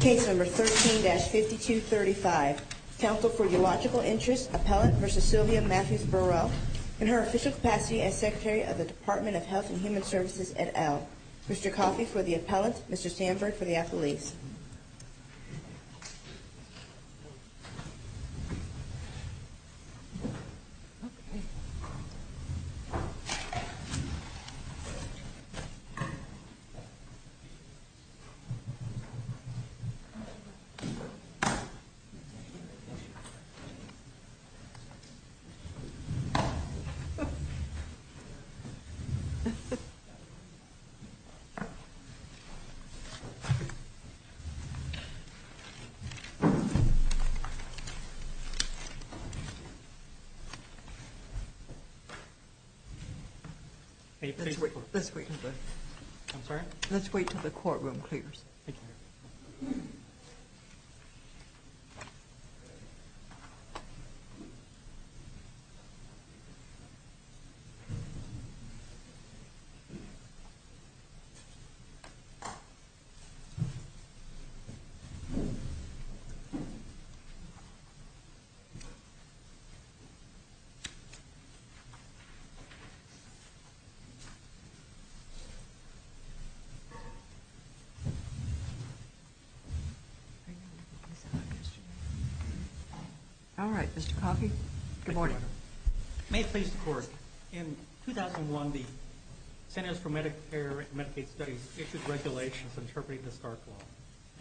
Case number 13-5235, Counsel for Your Logical Interest, Appellant v. Sylvia Matthews Burrell, in her official capacity as Secretary of the Department of Health and Human Services at Elm. Mr. Coffey for the Appellant, Mr. Sanford for the Appellees. Let's wait until the courtroom clears. All right, Mr. Coffey, good morning. May it please the Court, in 2001 the Centers for Medicare and Medicaid Studies issued regulations interpreting the Stark Law.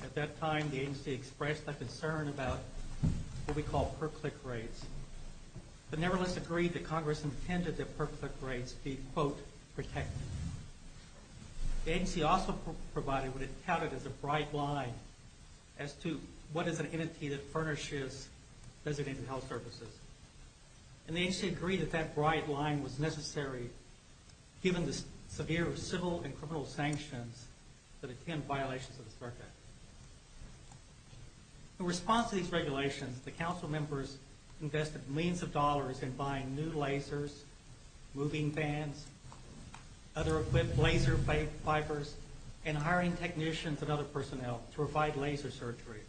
At that time, the agency expressed a concern about what we call per-click rates, but nevertheless agreed that Congress intended that per-click rates be, quote, protected. The agency also provided what it touted as a bright line as to what is an entity that furnishes designated health services. And the agency agreed that that bright line was necessary given the severe civil and criminal sanctions that attend violations of the Stark Act. In response to these regulations, the Council members invested millions of dollars in buying new lasers, moving vans, other equipped laser fibers, and hiring technicians and other personnel to provide laser surgery.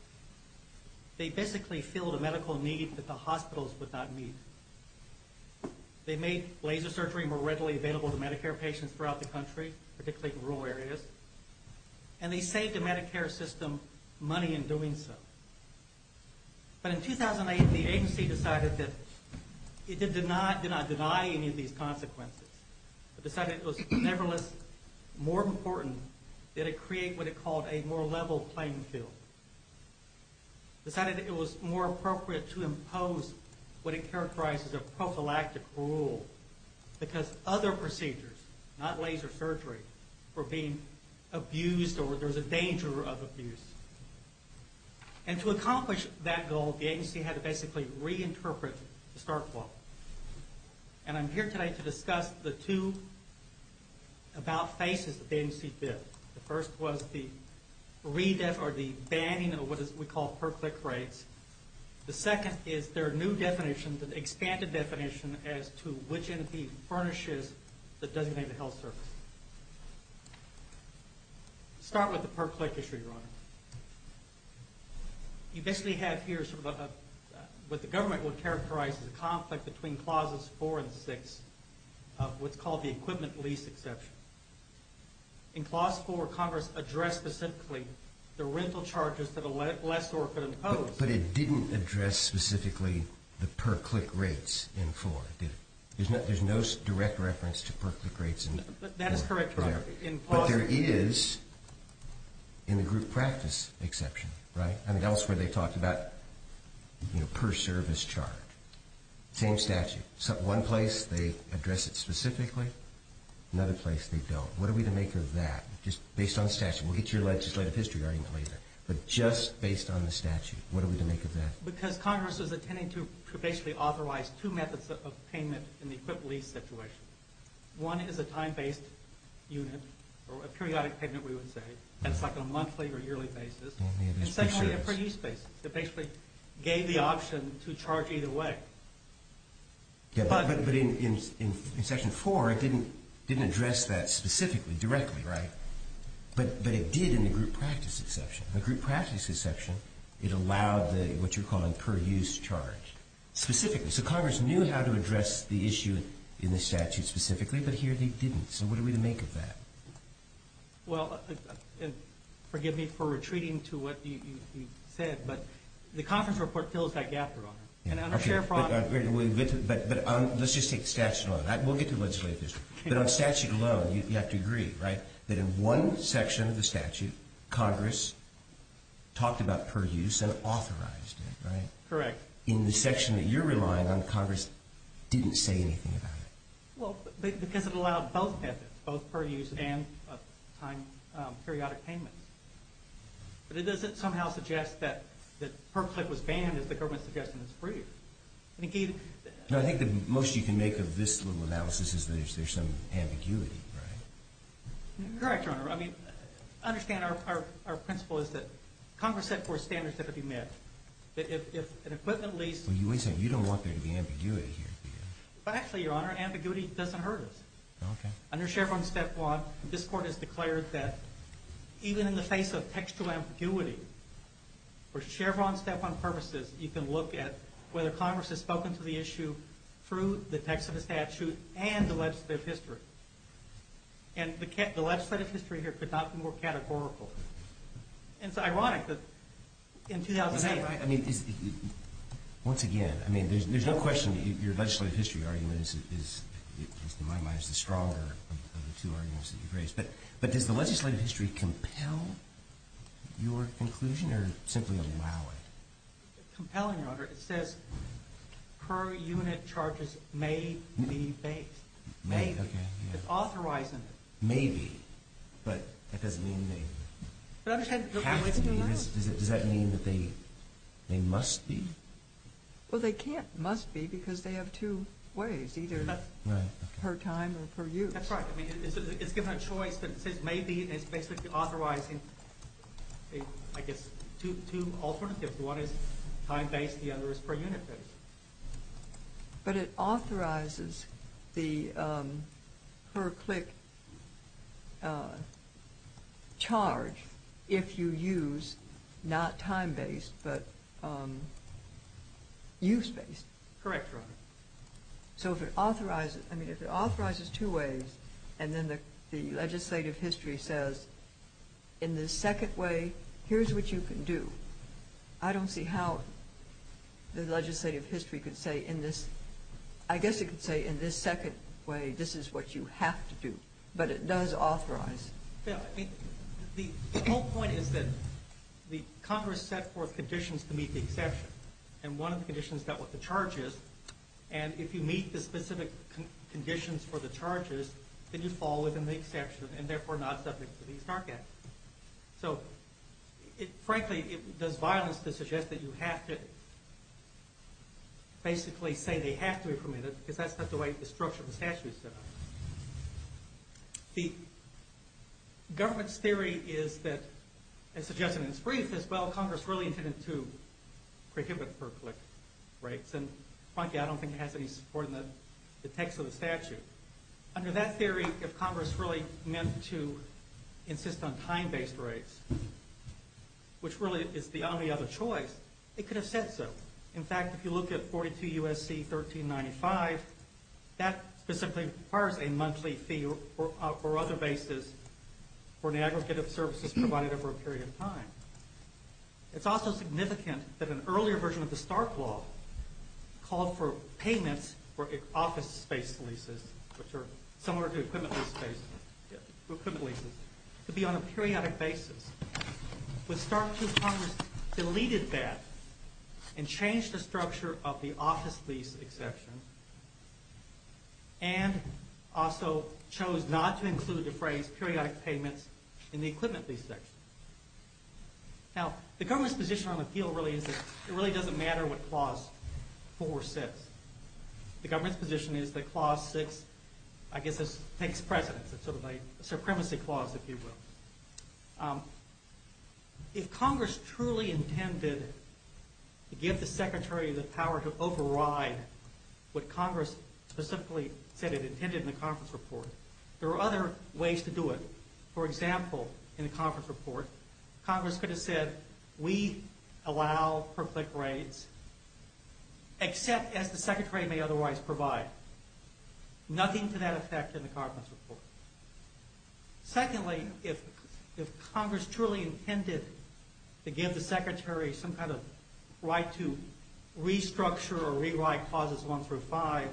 They basically filled a medical need that the hospitals would not meet. They made laser surgery more readily available to Medicare patients throughout the country, particularly in rural areas. And they saved the Medicare system money in doing so. But in 2008, the agency decided that it did not deny any of these consequences, but decided it was nevertheless more important that it create what it called a more level playing field. Decided that it was more appropriate to impose what it characterized as a prophylactic rule because other procedures, not laser surgery, were being abused or there was a danger of abuse. And to accomplish that goal, the agency had to basically reinterpret the Stark Law. And I'm here today to discuss the two about-faces that the agency did. The first was the banning of what we call per-click rates. The second is their new definition, the expanded definition, as to which entity furnishes the designated health service. Let's start with the per-click issue, Your Honor. You basically have here what the government would characterize as a conflict between clauses 4 and 6 of what's called the equipment lease exception. In clause 4, Congress addressed specifically the rental charges that a lessor could impose. But it didn't address specifically the per-click rates in 4, did it? There's no direct reference to per-click rates in 4. That is correct, Your Honor. But there is in the group practice exception, right? I mean, elsewhere they talked about per-service charge. Same statute. One place they address it specifically. Another place they don't. What are we to make of that? Just based on statute. We'll get to your legislative history argument later. But just based on the statute, what are we to make of that? Because Congress is intending to basically authorize two methods of payment in the equipment lease situation. One is a time-based unit, or a periodic payment, we would say. That's like a monthly or yearly basis. And secondly, a per-use basis. It basically gave the option to charge either way. But in section 4, it didn't address that specifically, directly, right? But it did in the group practice exception. In the group practice exception, it allowed what you're calling per-use charge. Specifically. So Congress knew how to address the issue in the statute specifically, but here they didn't. So what are we to make of that? Well, forgive me for retreating to what you said, but the conference report fills that gap, Your Honor. Okay. But let's just take the statute alone. We'll get to legislative history. But on statute alone, you have to agree, right? That in one section of the statute, Congress talked about per-use and authorized it, right? Correct. In the section that you're relying on, Congress didn't say anything about it. Well, because it allowed both methods, both per-use and periodic payments. But it doesn't somehow suggest that per-clip was banned as the government suggested it was free. No, I think the most you can make of this little analysis is there's some ambiguity, right? Correct, Your Honor. I mean, understand our principle is that Congress set forth standards that would be met. That if an equipment lease. Well, you always say you don't want there to be ambiguity here. But actually, Your Honor, ambiguity doesn't hurt us. Okay. Under Chevron step one, this Court has declared that even in the face of textual ambiguity, for Chevron step one purposes, you can look at whether Congress has spoken to the issue through the text of the statute and the legislative history. And the legislative history here could not be more categorical. And it's ironic that in 2008. Is that right? I mean, once again, I mean, there's no question your legislative history argument is, in my mind, is the stronger of the two arguments that you've raised. But does the legislative history compel your conclusion or simply allow it? Compelling, Your Honor. It says per unit charges may be based. May, okay. It's authorizing it. May be. But that doesn't mean they have to be. Does that mean that they must be? Well, they can't must be because they have two ways, either per time or per use. That's right. I mean, it's given a choice, but it says may be, and it's basically authorizing, I guess, two alternatives. One is time-based, the other is per unit based. But it authorizes the per-click charge if you use not time-based but use-based. Correct, Your Honor. So if it authorizes, I mean, if it authorizes two ways and then the legislative history says, in this second way, here's what you can do, I don't see how the legislative history could say, in this, I guess it could say, in this second way, this is what you have to do. But it does authorize. The whole point is that the Congress set forth conditions to meet the exception, and one of the conditions dealt with the charges. And if you meet the specific conditions for the charges, then you fall within the exception and therefore not subject to these dark acts. So frankly, it does violence to suggest that you have to basically say they have to be permitted because that's not the way the structure of the statute is set up. The government's theory is that, as suggested in its brief, is well, Congress really intended to prohibit per-click rates. And frankly, I don't think it has any support in the text of the statute. Under that theory, if Congress really meant to insist on time-based rates, which really is the only other choice, it could have said so. In fact, if you look at 42 U.S.C. 1395, that specifically requires a monthly fee or other basis for an aggregate of services provided over a period of time. It's also significant that an earlier version of the Stark Law called for payments for office space leases, which are similar to equipment leases, to be on a periodic basis. With Stark, Congress deleted that and changed the structure of the office lease exception and also chose not to include the phrase periodic payments in the equipment lease section. Now, the government's position on the field really is that it really doesn't matter what Clause 4 says. The government's position is that Clause 6, I guess, takes precedence. It's sort of a supremacy clause, if you will. If Congress truly intended to give the Secretary the power to override what Congress specifically said it intended in the conference report, there are other ways to do it. For example, in the conference report, Congress could have said, we allow per-click rates except as the Secretary may otherwise provide. Nothing to that effect in the conference report. Secondly, if Congress truly intended to give the Secretary some kind of right to restructure or rewrite Clauses 1 through 5,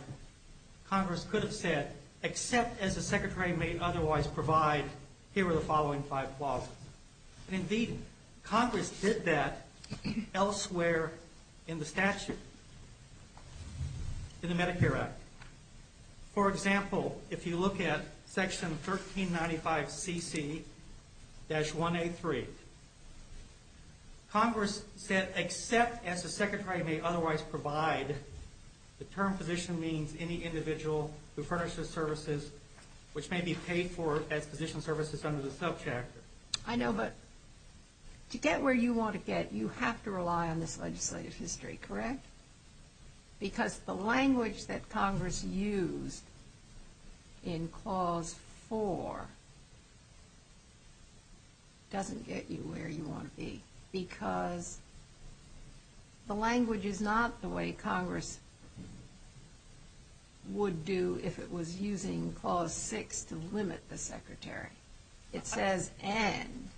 Congress could have said, except as the Secretary may otherwise provide, here are the following five clauses. Indeed, Congress did that elsewhere in the statute, in the Medicare Act. For example, if you look at Section 1395CC-1A3, Congress said, except as the Secretary may otherwise provide. The term physician means any individual who furnishes services which may be paid for as physician services under the sub-chapter. I know, but to get where you want to get, you have to rely on this legislative history, correct? Because the language that Congress used in Clause 4 doesn't get you where you want to be. Because the language is not the way Congress would do if it was using Clause 6 to limit the Secretary. It says, and.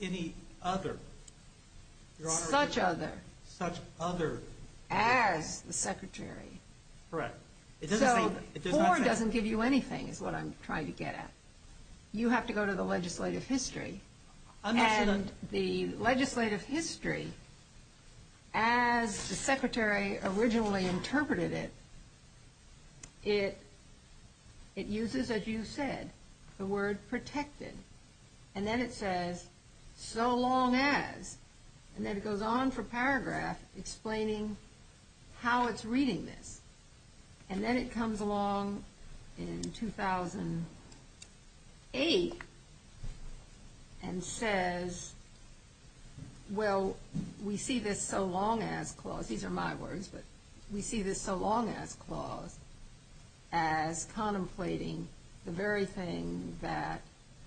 Any other. Such other. Such other. As the Secretary. Correct. So, 4 doesn't give you anything, is what I'm trying to get at. You have to go to the legislative history. And the legislative history, as the Secretary originally interpreted it, it uses, as you said, the word protected. And then it says, so long as. And then it goes on for paragraph explaining how it's reading this. And then it comes along in 2008 and says, well, we see this so long as clause. These are my words. But we see this so long as clause as contemplating the very thing that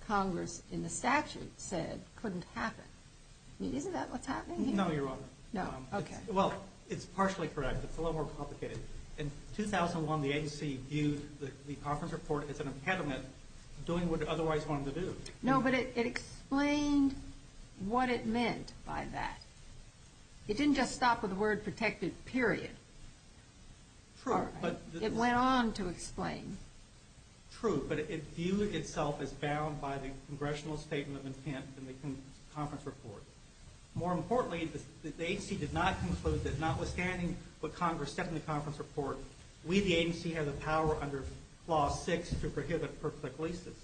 Congress in the statute said couldn't happen. I mean, isn't that what's happening here? No, Your Honor. No. Okay. Well, it's partially correct. It's a little more complicated. In 2001, the agency viewed the conference report as an impediment to doing what it otherwise wanted to do. No, but it explained what it meant by that. It didn't just stop with the word protected, period. True, but. It went on to explain. True, but it viewed itself as bound by the congressional statement of intent in the conference report. More importantly, the agency did not conclude that notwithstanding what Congress said in the conference report, we, the agency, have the power under Clause 6 to prohibit perfect leases.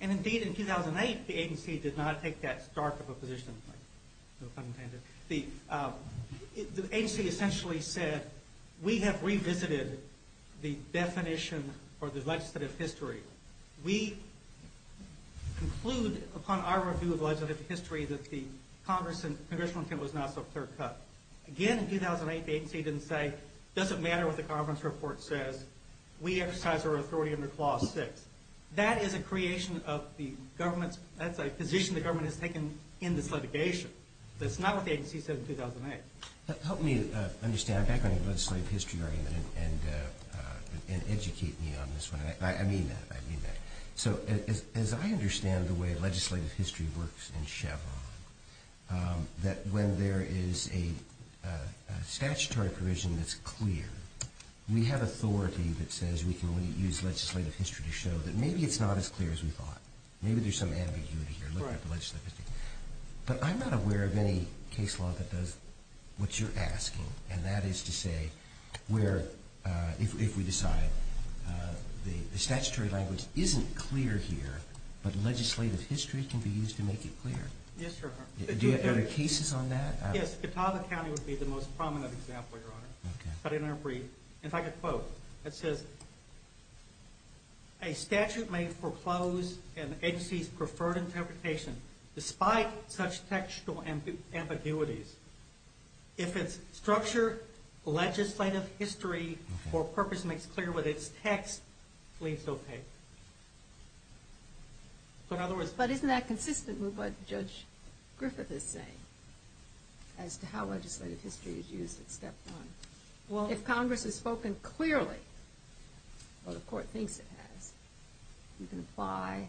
And indeed, in 2008, the agency did not take that stark of a position. No pun intended. The agency essentially said, we have revisited the definition or the legislative history. We conclude upon our review of legislative history that the congressional intent was not so clear-cut. Again, in 2008, the agency didn't say, does it matter what the conference report says? We exercise our authority under Clause 6. That is a creation of the government's, that's a position the government has taken in this litigation. That's not what the agency said in 2008. Help me understand, back on the legislative history argument and educate me on this one. I mean that, I mean that. So as I understand the way legislative history works in Chevron, that when there is a statutory provision that's clear, we have authority that says we can only use legislative history to show that maybe it's not as clear as we thought. Maybe there's some ambiguity here looking at the legislative history. But I'm not aware of any case law that does what you're asking. And that is to say, where if we decide the statutory language isn't clear here, but legislative history can be used to make it clear. Yes, Your Honor. Are there cases on that? Yes, Catawba County would be the most prominent example, Your Honor. Okay. If I could quote. It says, a statute may foreclose an agency's preferred interpretation despite such textual ambiguities. If its structure, legislative history, or purpose makes clear with its text, please don't take it. But isn't that consistent with what Judge Griffith is saying as to how legislative history is used at Step 1? Well, if Congress has spoken clearly, or the Court thinks it has, you can apply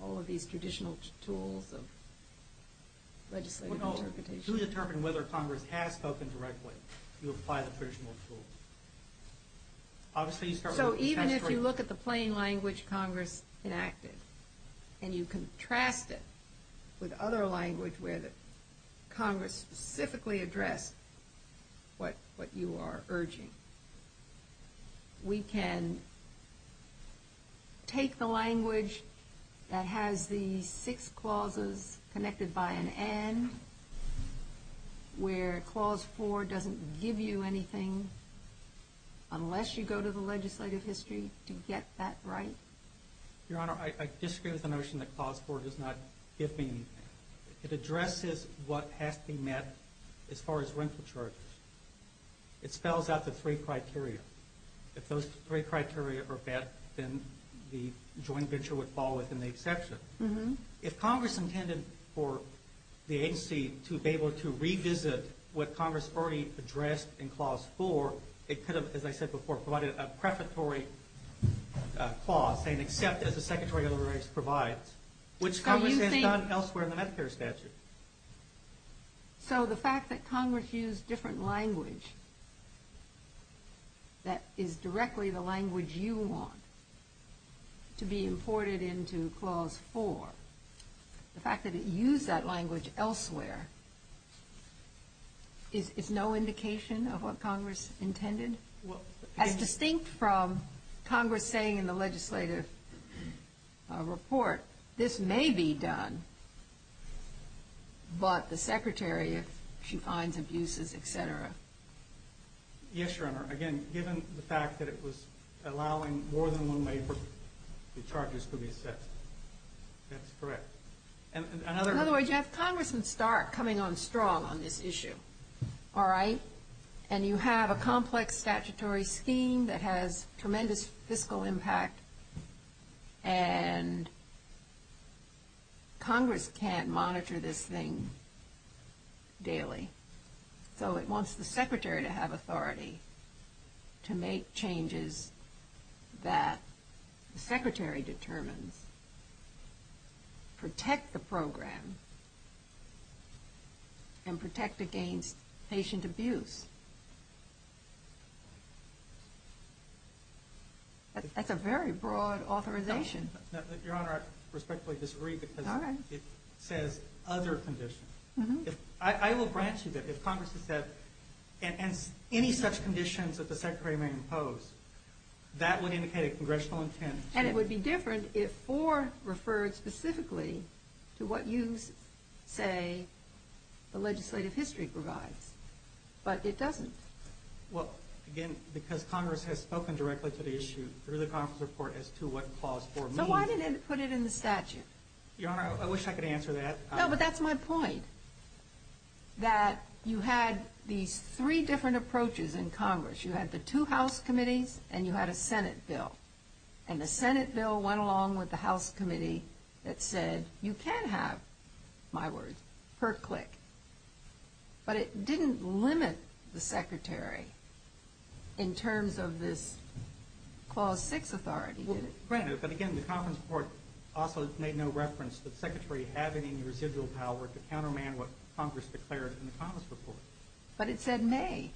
all of these traditional tools of legislative interpretation. To determine whether Congress has spoken directly, you apply the traditional tools. So even if you look at the plain language Congress enacted, and you contrast it with other language where Congress specifically addressed what you are urging, we can take the language that has the six clauses connected by an and, where Clause 4 doesn't give you anything unless you go to the legislative history to get that right? Your Honor, I disagree with the notion that Clause 4 does not give me anything. It addresses what has to be met as far as rental charges. It spells out the three criteria. If those three criteria are met, then the joint venture would fall within the exception. If Congress intended for the agency to be able to revisit what Congress already addressed in Clause 4, it could have, as I said before, provided a prefatory clause saying, except as the Secretary of the Ranks provides, which Congress has done elsewhere in the Medicare statute. So the fact that Congress used different language that is directly the language you want to be imported into Clause 4, the fact that it used that language elsewhere is no indication of what Congress intended? As distinct from Congress saying in the legislative report, this may be done, but the Secretary, if she finds abuses, et cetera. Yes, Your Honor. Again, given the fact that it was allowing more than one way for the charges to be set. That's correct. In other words, you have Congressman Stark coming on strong on this issue. All right? And you have a complex statutory scheme that has tremendous fiscal impact, and Congress can't monitor this thing daily. So it wants the Secretary to have authority to make changes that the Secretary determines, protect the program, and protect against patient abuse. That's a very broad authorization. Your Honor, I respectfully disagree because it says other conditions. I will grant you that if Congress has said any such conditions that the Secretary may impose, that would indicate a congressional intent. And it would be different if 4 referred specifically to what you say the legislative history provides. But it doesn't. Well, again, because Congress has spoken directly to the issue through the Congress report as to what Clause 4 means. So why didn't it put it in the statute? Your Honor, I wish I could answer that. No, but that's my point. That you had these three different approaches in Congress. You had the two House committees, and you had a Senate bill. And the Senate bill went along with the House committee that said you can have, my word, per click. But it didn't limit the Secretary in terms of this Clause 6 authority, did it? Well, granted, but again, the conference report also made no reference to the Secretary having any residual power to counterman what Congress declared in the Congress report. But it said may.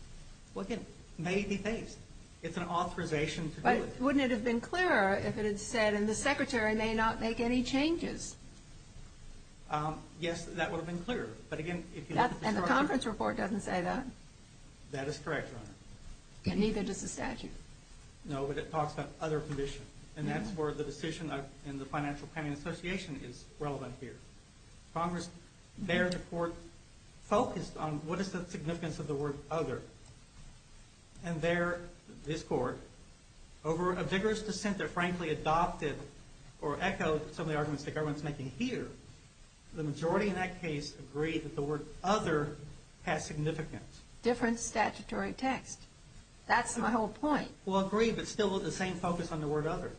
May be phased. It's an authorization to do it. But wouldn't it have been clearer if it had said, and the Secretary may not make any changes? Yes, that would have been clearer. And the conference report doesn't say that? That is correct, Your Honor. And neither does the statute. No, but it talks about other condition. And that's where the decision in the Financial Planning Association is relevant here. Congress, their report focused on what is the significance of the word other. And their, this Court, over a vigorous dissent that frankly adopted or echoed some of the arguments that everyone's making here, the majority in that case agreed that the word other has significance. Different statutory text. That's my whole point. Well, agreed, but still with the same focus on the word other.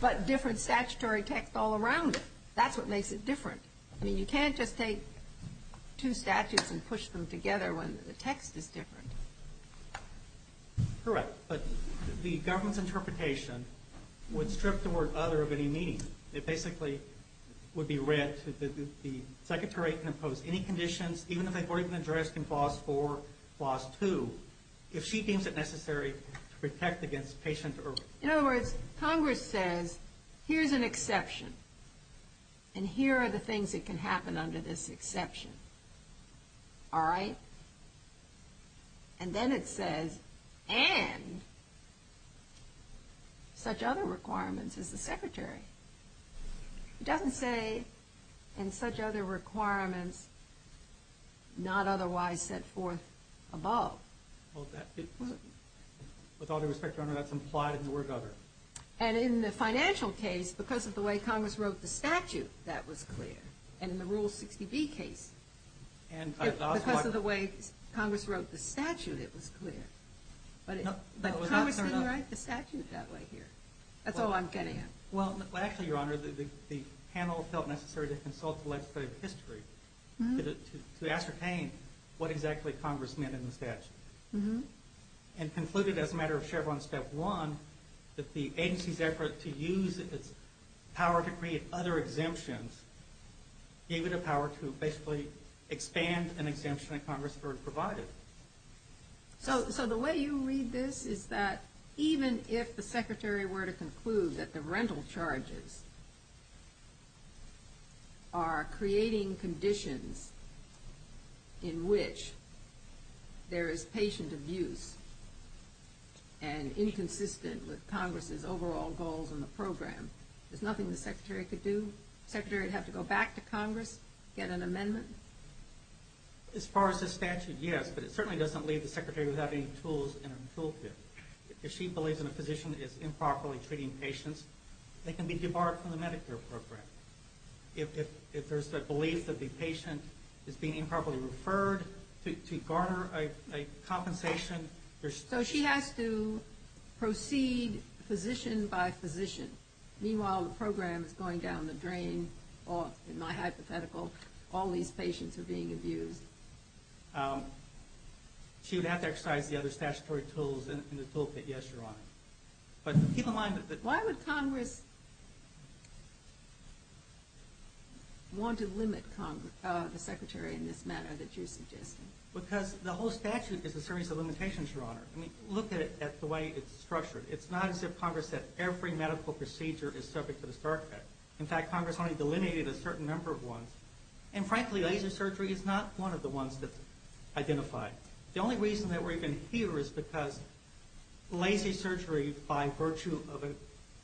But different statutory text all around it. That's what makes it different. I mean, you can't just take two statutes and push them together when the text is different. Correct. But the government's interpretation would strip the word other of any meaning. It basically would be read that the Secretary can impose any conditions, even if they've already been addressed in Clause 4, Clause 2, if she deems it necessary to protect against patient or... In other words, Congress says, here's an exception. And here are the things that can happen under this exception. All right? And then it says, and such other requirements as the Secretary. It doesn't say, and such other requirements not otherwise set forth above. Well, with all due respect, Your Honor, that's implied in the word other. And in the financial case, because of the way Congress wrote the statute, that was clear. And in the Rule 60B case, because of the way Congress wrote the statute, it was clear. But Congress didn't write the statute that way here. That's all I'm getting at. Well, actually, Your Honor, the panel felt necessary to consult the legislative history to ascertain what exactly Congress meant in the statute. And concluded, as a matter of Chevron Step 1, that the agency's effort to use its power to create other exemptions gave it a power to basically expand an exemption that Congress provided. So the way you read this is that even if the Secretary were to conclude that the rental charges are creating conditions in which there is patient abuse and inconsistent with Congress's overall goals in the program, there's nothing the Secretary could do? The Secretary would have to go back to Congress, get an amendment? As far as the statute, yes. But it certainly doesn't leave the Secretary without any tools in her tool kit. If she believes that a physician is improperly treating patients, they can be debarred from the Medicare program. If there's the belief that the patient is being improperly referred to garner a compensation... So she has to proceed physician by physician. Meanwhile, the program is going down the drain. In my hypothetical, all these patients are being abused. She would have to exercise the other statutory tools in the tool kit, yes, Your Honor. But keep in mind that... Why would Congress want to limit the Secretary in this manner that you're suggesting? Because the whole statute is a series of limitations, Your Honor. Look at it the way it's structured. It's not as if Congress said every medical procedure is subject to the Stark Act. And frankly, laser surgery is not one of the ones that's identified. The only reason that we're even here is because laser surgery by virtue of a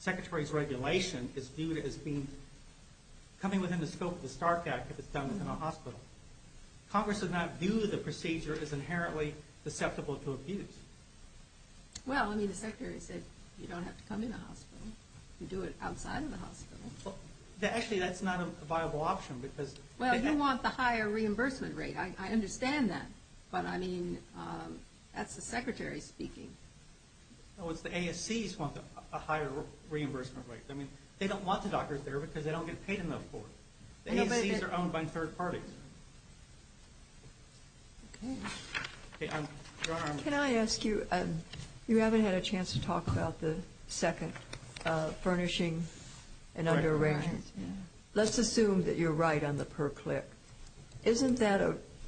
Secretary's regulation is viewed as coming within the scope of the Stark Act if it's done in a hospital. Congress would not view the procedure as inherently deceptible to abuse. Well, I mean, the Secretary said you don't have to come in a hospital. You can do it outside of the hospital. Well, actually, that's not a viable option because... Well, you want the higher reimbursement rate. I understand that. But, I mean, that's the Secretary speaking. No, it's the ASCs want a higher reimbursement rate. I mean, they don't want the doctors there because they don't get paid enough for it. The ASCs are owned by third parties. Okay. Okay, Your Honor, I'm... Can I ask you, you haven't had a chance to talk about the second, furnishing and underarrangement. Let's assume that you're right on the per click. Isn't that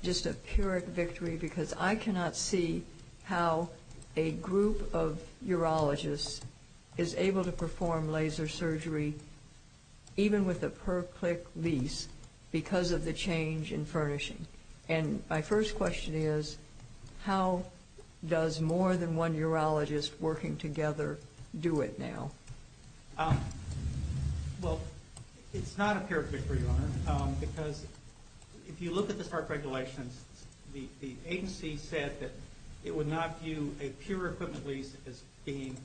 just a pyrrhic victory? Because I cannot see how a group of urologists is able to perform laser surgery, even with a per click lease, because of the change in furnishing. And my first question is, how does more than one urologist working together do it now? Well, it's not a pyrrhic victory, Your Honor, because if you look at the SART regulations, the agency said that it would not view a pure equipment lease as being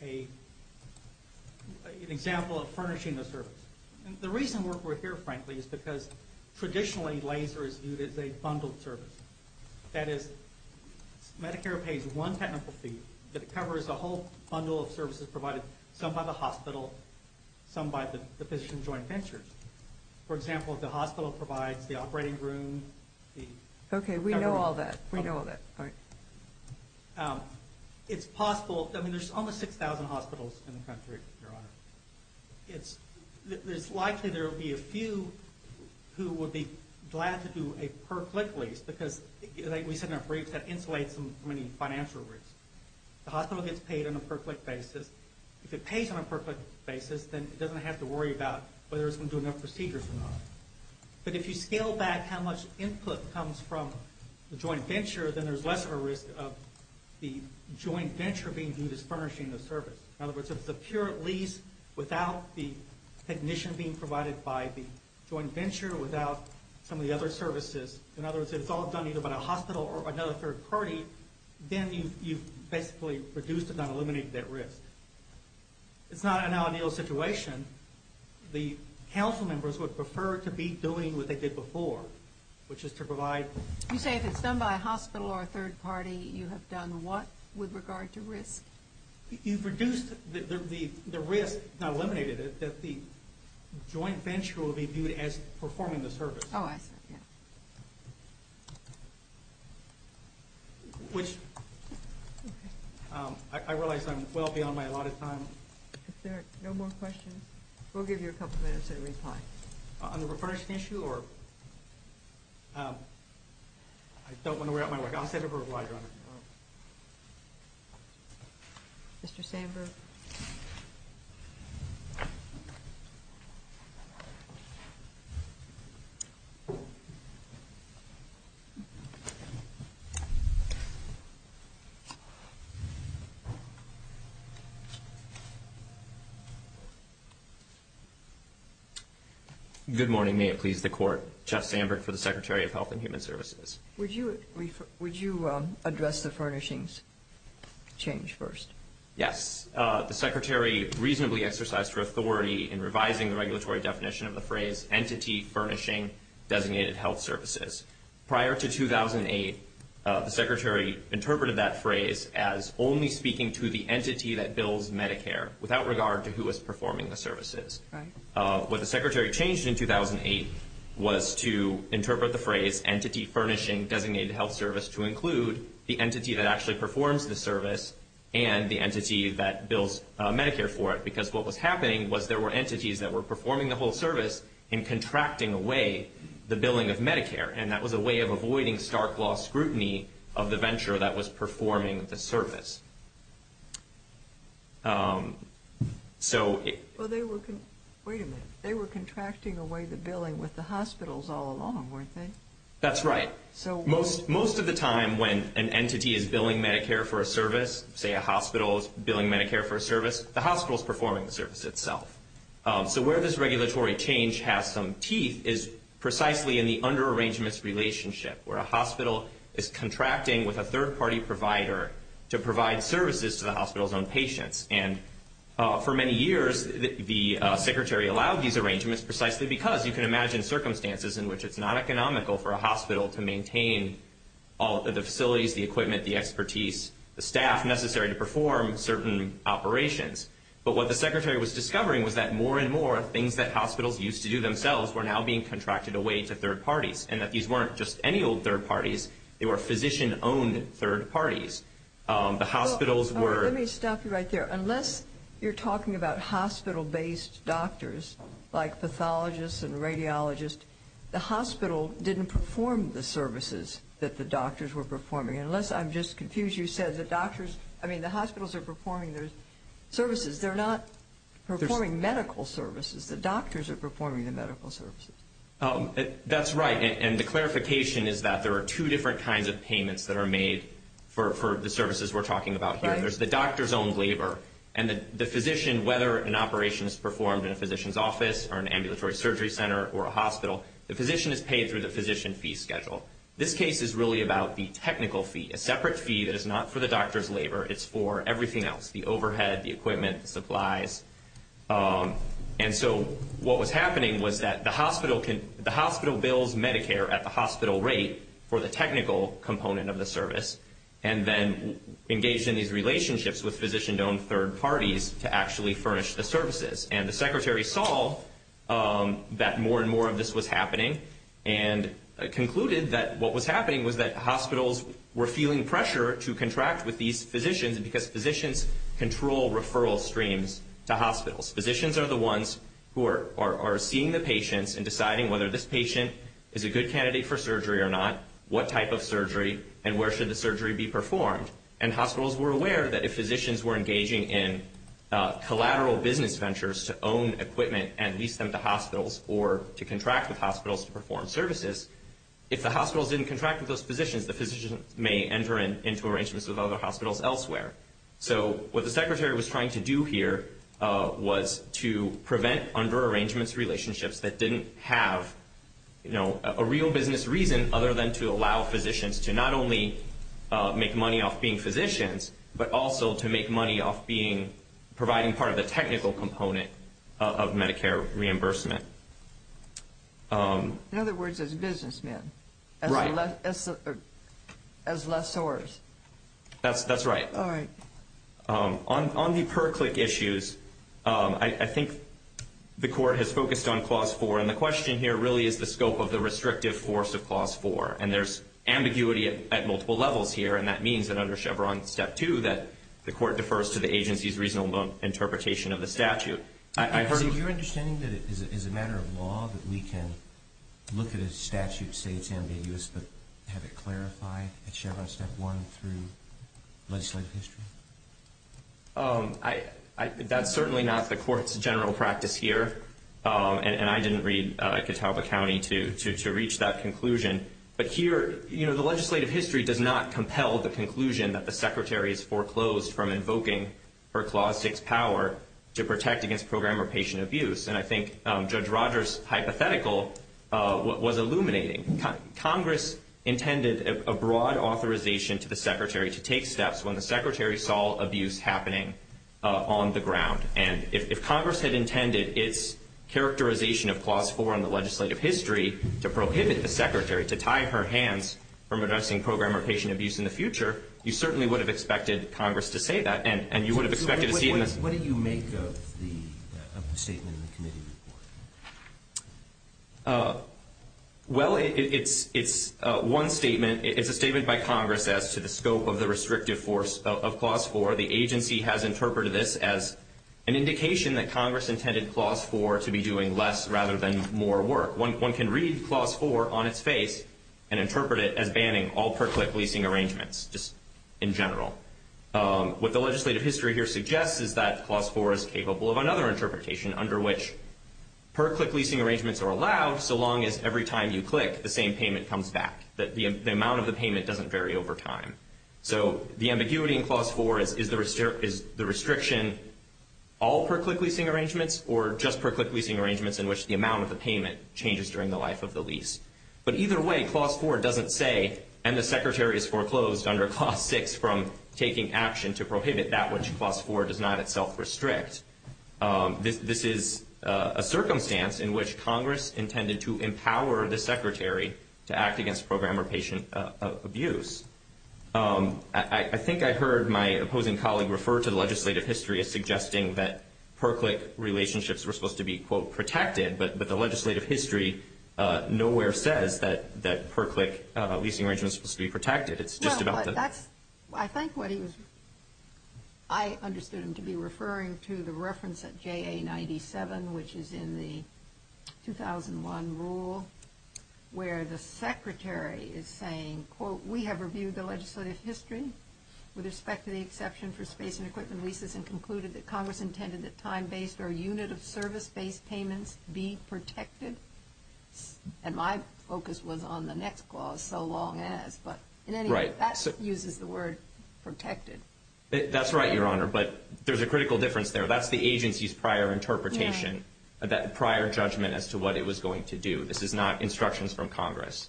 an example of furnishing a service. The reason we're here, frankly, is because traditionally laser is viewed as a bundled service. That is, Medicare pays one technical fee, but it covers a whole bundle of services provided, some by the hospital, some by the physician joint ventures. For example, if the hospital provides the operating room... Okay, we know all that. We know all that. It's possible... I mean, there's almost 6,000 hospitals in the country, Your Honor. It's likely there will be a few who would be glad to do a per click lease, because, like we said in our brief, that insulates from any financial risk. The hospital gets paid on a per click basis. If it pays on a per click basis, then it doesn't have to worry about whether it's going to do enough procedures or not. But if you scale back how much input comes from the joint venture, then there's less of a risk of the joint venture being viewed as furnishing the service. In other words, if it's a pure lease without the technician being provided by the joint venture, without some of the other services... In other words, if it's all done either by the hospital or another third party, then you've basically reduced it, not eliminated that risk. It's not an ideal situation. The council members would prefer to be doing what they did before, which is to provide... You say if it's done by a hospital or a third party, you have done what with regard to risk? You've reduced the risk, not eliminated it, that the joint venture will be viewed as performing the service. Oh, I see. Yeah. Which... Okay. I realize I'm well beyond my allotted time. If there are no more questions, we'll give you a couple minutes to reply. On the refurnishing issue or... I don't want to wear out my work. I'll send a reply, Your Honor. Mr. Sandberg. Good morning. May it please the Court. Jeff Sandberg for the Secretary of Health and Human Services. Would you address the furnishings change first? Yes. The Secretary reasonably exercised her authority in revising the regulatory definition does not apply to health services. The definition of entity furnishing does not apply to health services. Prior to 2008, the Secretary interpreted that phrase as only speaking to the entity that bills Medicare without regard to who is performing the services. Right. What the Secretary changed in 2008 was to interpret the phrase entity furnishing designated health service to include the entity that actually performs the service and the entity that bills Medicare for it. Because what was happening was there were entities that were performing the whole service and contracting away the billing of Medicare and that was a way of avoiding stark law scrutiny of the venture that was performing the service. So... Wait a minute. They were contracting away the billing with the hospitals all along, weren't they? That's right. Most of the time when an entity is billing Medicare for a service, say a hospital is billing Medicare for a service, the hospital is performing the service itself. So where this regulatory change has some teeth is precisely in the under-arrangements relationship where a hospital is contracting with a third-party provider to provide services to the hospital's own patients. And for many years, the Secretary allowed these arrangements precisely because you can imagine circumstances in which it's not economical for a hospital to maintain all of the facilities, the equipment, the expertise, the staff necessary to perform certain operations. But what the Secretary was discovering was that more and more things that hospitals used to do themselves were now being contracted away to third parties and that these weren't just any old third parties. They were physician-owned third parties. The hospitals were... Let me stop you right there. Unless you're talking about hospital-based doctors like pathologists and radiologists, the hospital didn't perform the services that the doctors were performing. Unless I'm just confused. You said the doctors... I mean, the hospitals are performing their services. They're not performing medical services. The doctors are performing the medical services. That's right. And the clarification is that there are two different kinds of payments that are made for the services we're talking about here. There's the doctor's own labor and the physician, whether an operation is performed in a physician's office or an ambulatory surgery center or a hospital, the physician is paid through the physician fee schedule. This case is really about the technical fee, a separate fee that is not for the doctor's labor. It's for everything else, the overhead, the equipment, the supplies. And so what was happening was that the hospital bills Medicare at the hospital rate for the technical component of the service and then engaged in these relationships with physician-owned third parties to actually furnish the services. And the secretary saw that more and more of this was happening and concluded that what was happening was that hospitals were feeling pressure to contract with these physicians because physicians control referral streams to hospitals. Physicians are the ones who are seeing the patients and deciding whether this patient is a good candidate for surgery or not, what type of surgery, and where should the surgery be performed. And hospitals were aware that if physicians were engaging in collateral business ventures to own equipment and lease them to hospitals or to contract with hospitals to perform services, if the hospitals didn't contract with those physicians, the physicians may enter into arrangements with other hospitals elsewhere. So what the secretary was trying to do here was to prevent under-arrangements relationships that didn't have, you know, a real business reason other than to allow physicians to not only make money off being physicians, but also to make money off being, providing part of the technical component of Medicare reimbursement. In other words, as businessmen. Right. As lessors. That's right. All right. On the per-click issues, I think the court has focused on Clause 4, and the question here really is the scope of the restrictive force of Clause 4. And there's ambiguity at multiple levels here, and that means that under Chevron Step 2 that the court defers to the agency's reasonable interpretation of the statute. I heard... So you're understanding that it is a matter of law that we can look at a statute, say it's ambiguous, but have it clarified at Chevron Step 1 through legislative history? That's certainly not the court's general practice here, and I didn't read Catawba County to reach that conclusion. But here, you know, the legislative history does not compel the conclusion that the secretary has foreclosed from invoking her Clause 6 power to protect against program or patient abuse. And I think Judge Rogers' hypothetical was illuminating. Congress intended a broad authorization to the secretary to take steps when the secretary saw abuse happening on the ground. And if Congress had intended its characterization of Clause 4 on the legislative history to prohibit the secretary to tie her hands from addressing program or patient abuse in the future, you certainly would have expected Congress to say that, and you would have expected to see... What do you make of the statement in the committee report? Well, it's one statement. It's a statement by Congress as to the scope of the restrictive force of Clause 4. The agency has interpreted this as an indication that Congress intended Clause 4 to be doing less rather than more work. One can read Clause 4 on its face and interpret it as banning all per-click leasing arrangements, just in general. What the legislative history here suggests is that Clause 4 is capable of another interpretation, under which per-click leasing arrangements are allowed so long as every time you click, the same payment comes back, that the amount of the payment doesn't vary over time. So the ambiguity in Clause 4 is the restriction all per-click leasing arrangements or just per-click leasing arrangements in which the amount of the payment changes during the life of the lease. But either way, Clause 4 doesn't say, and the secretary has foreclosed under Clause 6 from taking action to prohibit that which Clause 4 does not itself restrict. This is a circumstance in which Congress intended to empower the secretary to act against program or patient abuse. I think I heard my opposing colleague refer to the legislative history as suggesting that per-click relationships were supposed to be, quote, protected, but the legislative history nowhere says that per-click leasing arrangements are supposed to be protected. It's just about the... No, but that's, I think what he was, I understood him to be referring to the reference at JA-97, which is in the 2001 rule, where the secretary is saying, quote, we have reviewed the legislative history with respect to the exception for space and equipment leases and concluded that Congress intended that time-based or unit-of-service-based payments be protected. And my focus was on the next clause, so long as, but in any event, that uses the word protected. That's right, Your Honor, but there's a critical difference there. That's the agency's prior interpretation, that prior judgment as to what it was going to do. This is not instructions from Congress.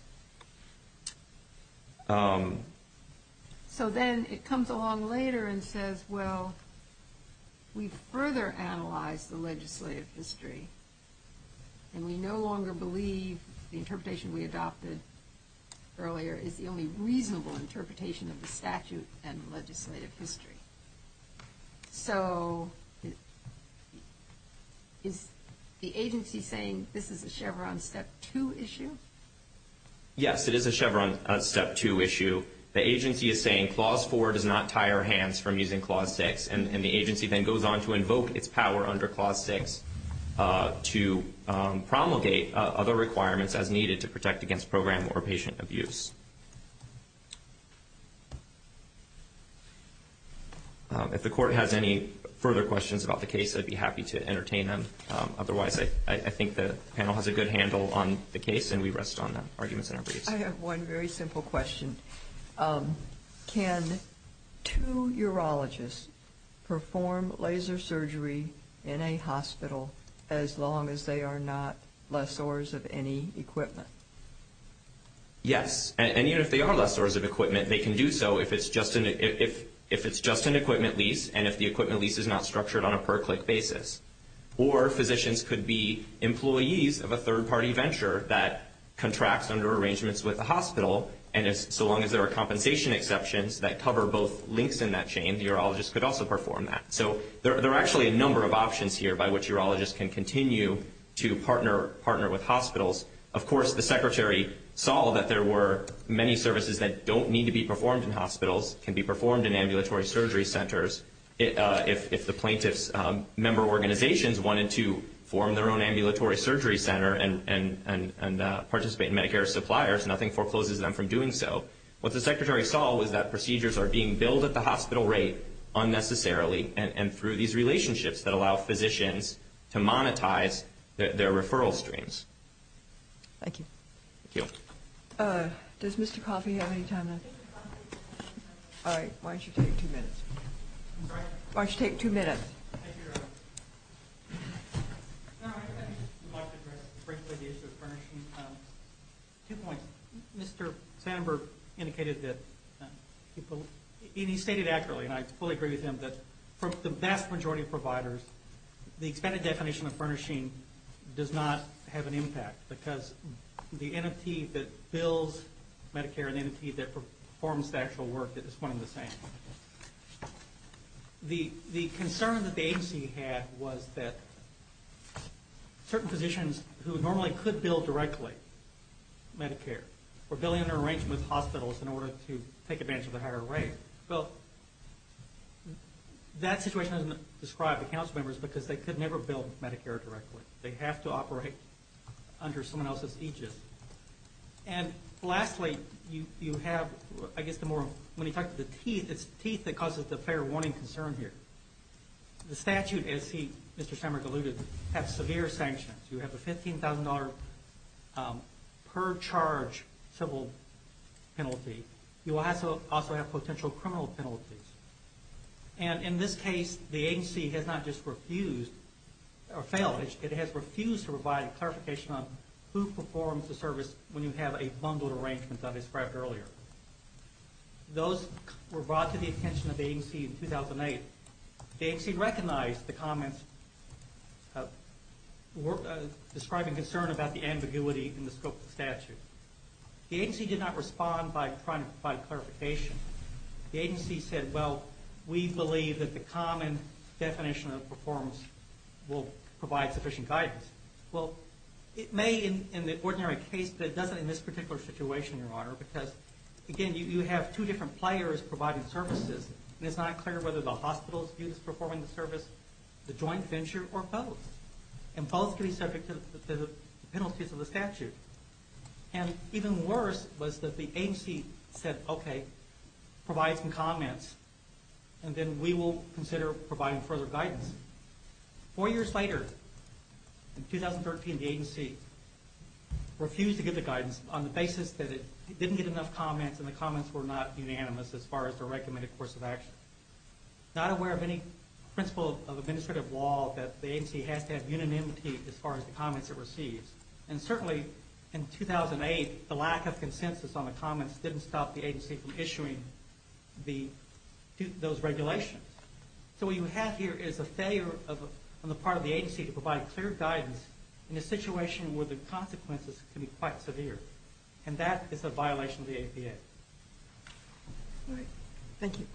So then it comes along later and says, well, we've further analyzed the legislative history, and we no longer believe the interpretation we adopted earlier is the only reasonable interpretation of the statute and legislative history. So is the agency saying this is a Chevron Step 2 issue? Yes, it is a Chevron Step 2 issue. The agency is saying Clause 4 does not tie our hands from using Clause 6, and the agency then goes on to invoke its power under Clause 6 to promulgate other requirements as needed to protect against program or patient abuse. If the Court has any further questions about the case, I'd be happy to entertain them. Otherwise, I think the panel has a good handle on the case, and we rest on the arguments in our briefs. I have one very simple question. Can two urologists perform laser surgery in a hospital as long as they are not lessors of any equipment? Yes, and I think that's a very good question. And even if they are lessors of equipment, they can do so if it's just an equipment lease and if the equipment lease is not structured on a per-click basis. Or physicians could be employees of a third-party venture that contracts under arrangements with the hospital, and so long as there are compensation exceptions that cover both links in that chain, the urologist could also perform that. So there are actually many services that don't need to be performed in hospitals, can be performed in ambulatory surgery centers. If the plaintiff's member organizations wanted to form their own ambulatory surgery center and participate in Medicare suppliers, nothing forecloses them from doing so. What the Secretary saw was that procedures are being billed at the hospital rate unnecessarily and through these relationships that allow physicians to monetize their referral streams. Thank you. Thank you. Does Mr. Coffey have any time left? All right, why don't you take two minutes? I'm sorry? Why don't you take two minutes? Thank you, Your Honor. I'd like to address the issue of furnishing. Two points. Mr. Sandberg indicated that he stated accurately, and I fully agree with him, that for the vast majority of providers, the expanded definition of furnishing has little impact because the entity that bills Medicare and the entity that performs the actual work is one and the same. The concern that the agency had was that certain physicians who normally could bill directly Medicare were billing under arrangements with hospitals in order to take advantage of the higher rate. Well, that situation doesn't describe the council members because they could never bill Medicare directly. They have to operate under someone else's aegis. And lastly, you have, I guess, when you talk about the teeth, it's the teeth that causes the fair warning concern here. The statute, as Mr. Sandberg alluded, has severe sanctions. You have a $15,000 per charge civil penalty. You also have potential criminal penalties. And in this case, the agency has not just refused or failed, it has refused to provide clarification on who performs the service when you have a bundled arrangement that I described earlier. Those were brought to the attention of the agency in 2008. The agency recognized the comments describing concern about the ambiguity in the scope of the statute. The agency did not respond by trying to provide clarification. The agency said, well, we believe that the common definition of performs will provide sufficient guidance. Well, it may in the ordinary case, but it doesn't in this particular situation, Your Honor, because, again, you have two different players providing services, and it's not clear whether the hospitals view this performing the service, the joint venture, or both. And both could be subject to the penalties of the statute. And even worse was that the agency said, okay, provide some comments, and then we will consider giving the guidance. Four years later, in 2013, the agency refused to give the guidance on the basis that it didn't get enough comments, and the comments were not unanimous as far as the recommended course of action. Not aware of any principle of administrative law that the agency has to have unanimity as far as the comments it receives. And certainly, in 2008, the lack of consensus on the comments didn't stop the agency from issuing those regulations. And today, on the part of the agency to provide clear guidance in a situation where the consequences can be quite severe. And that is a violation of the APA. All right. Thank you.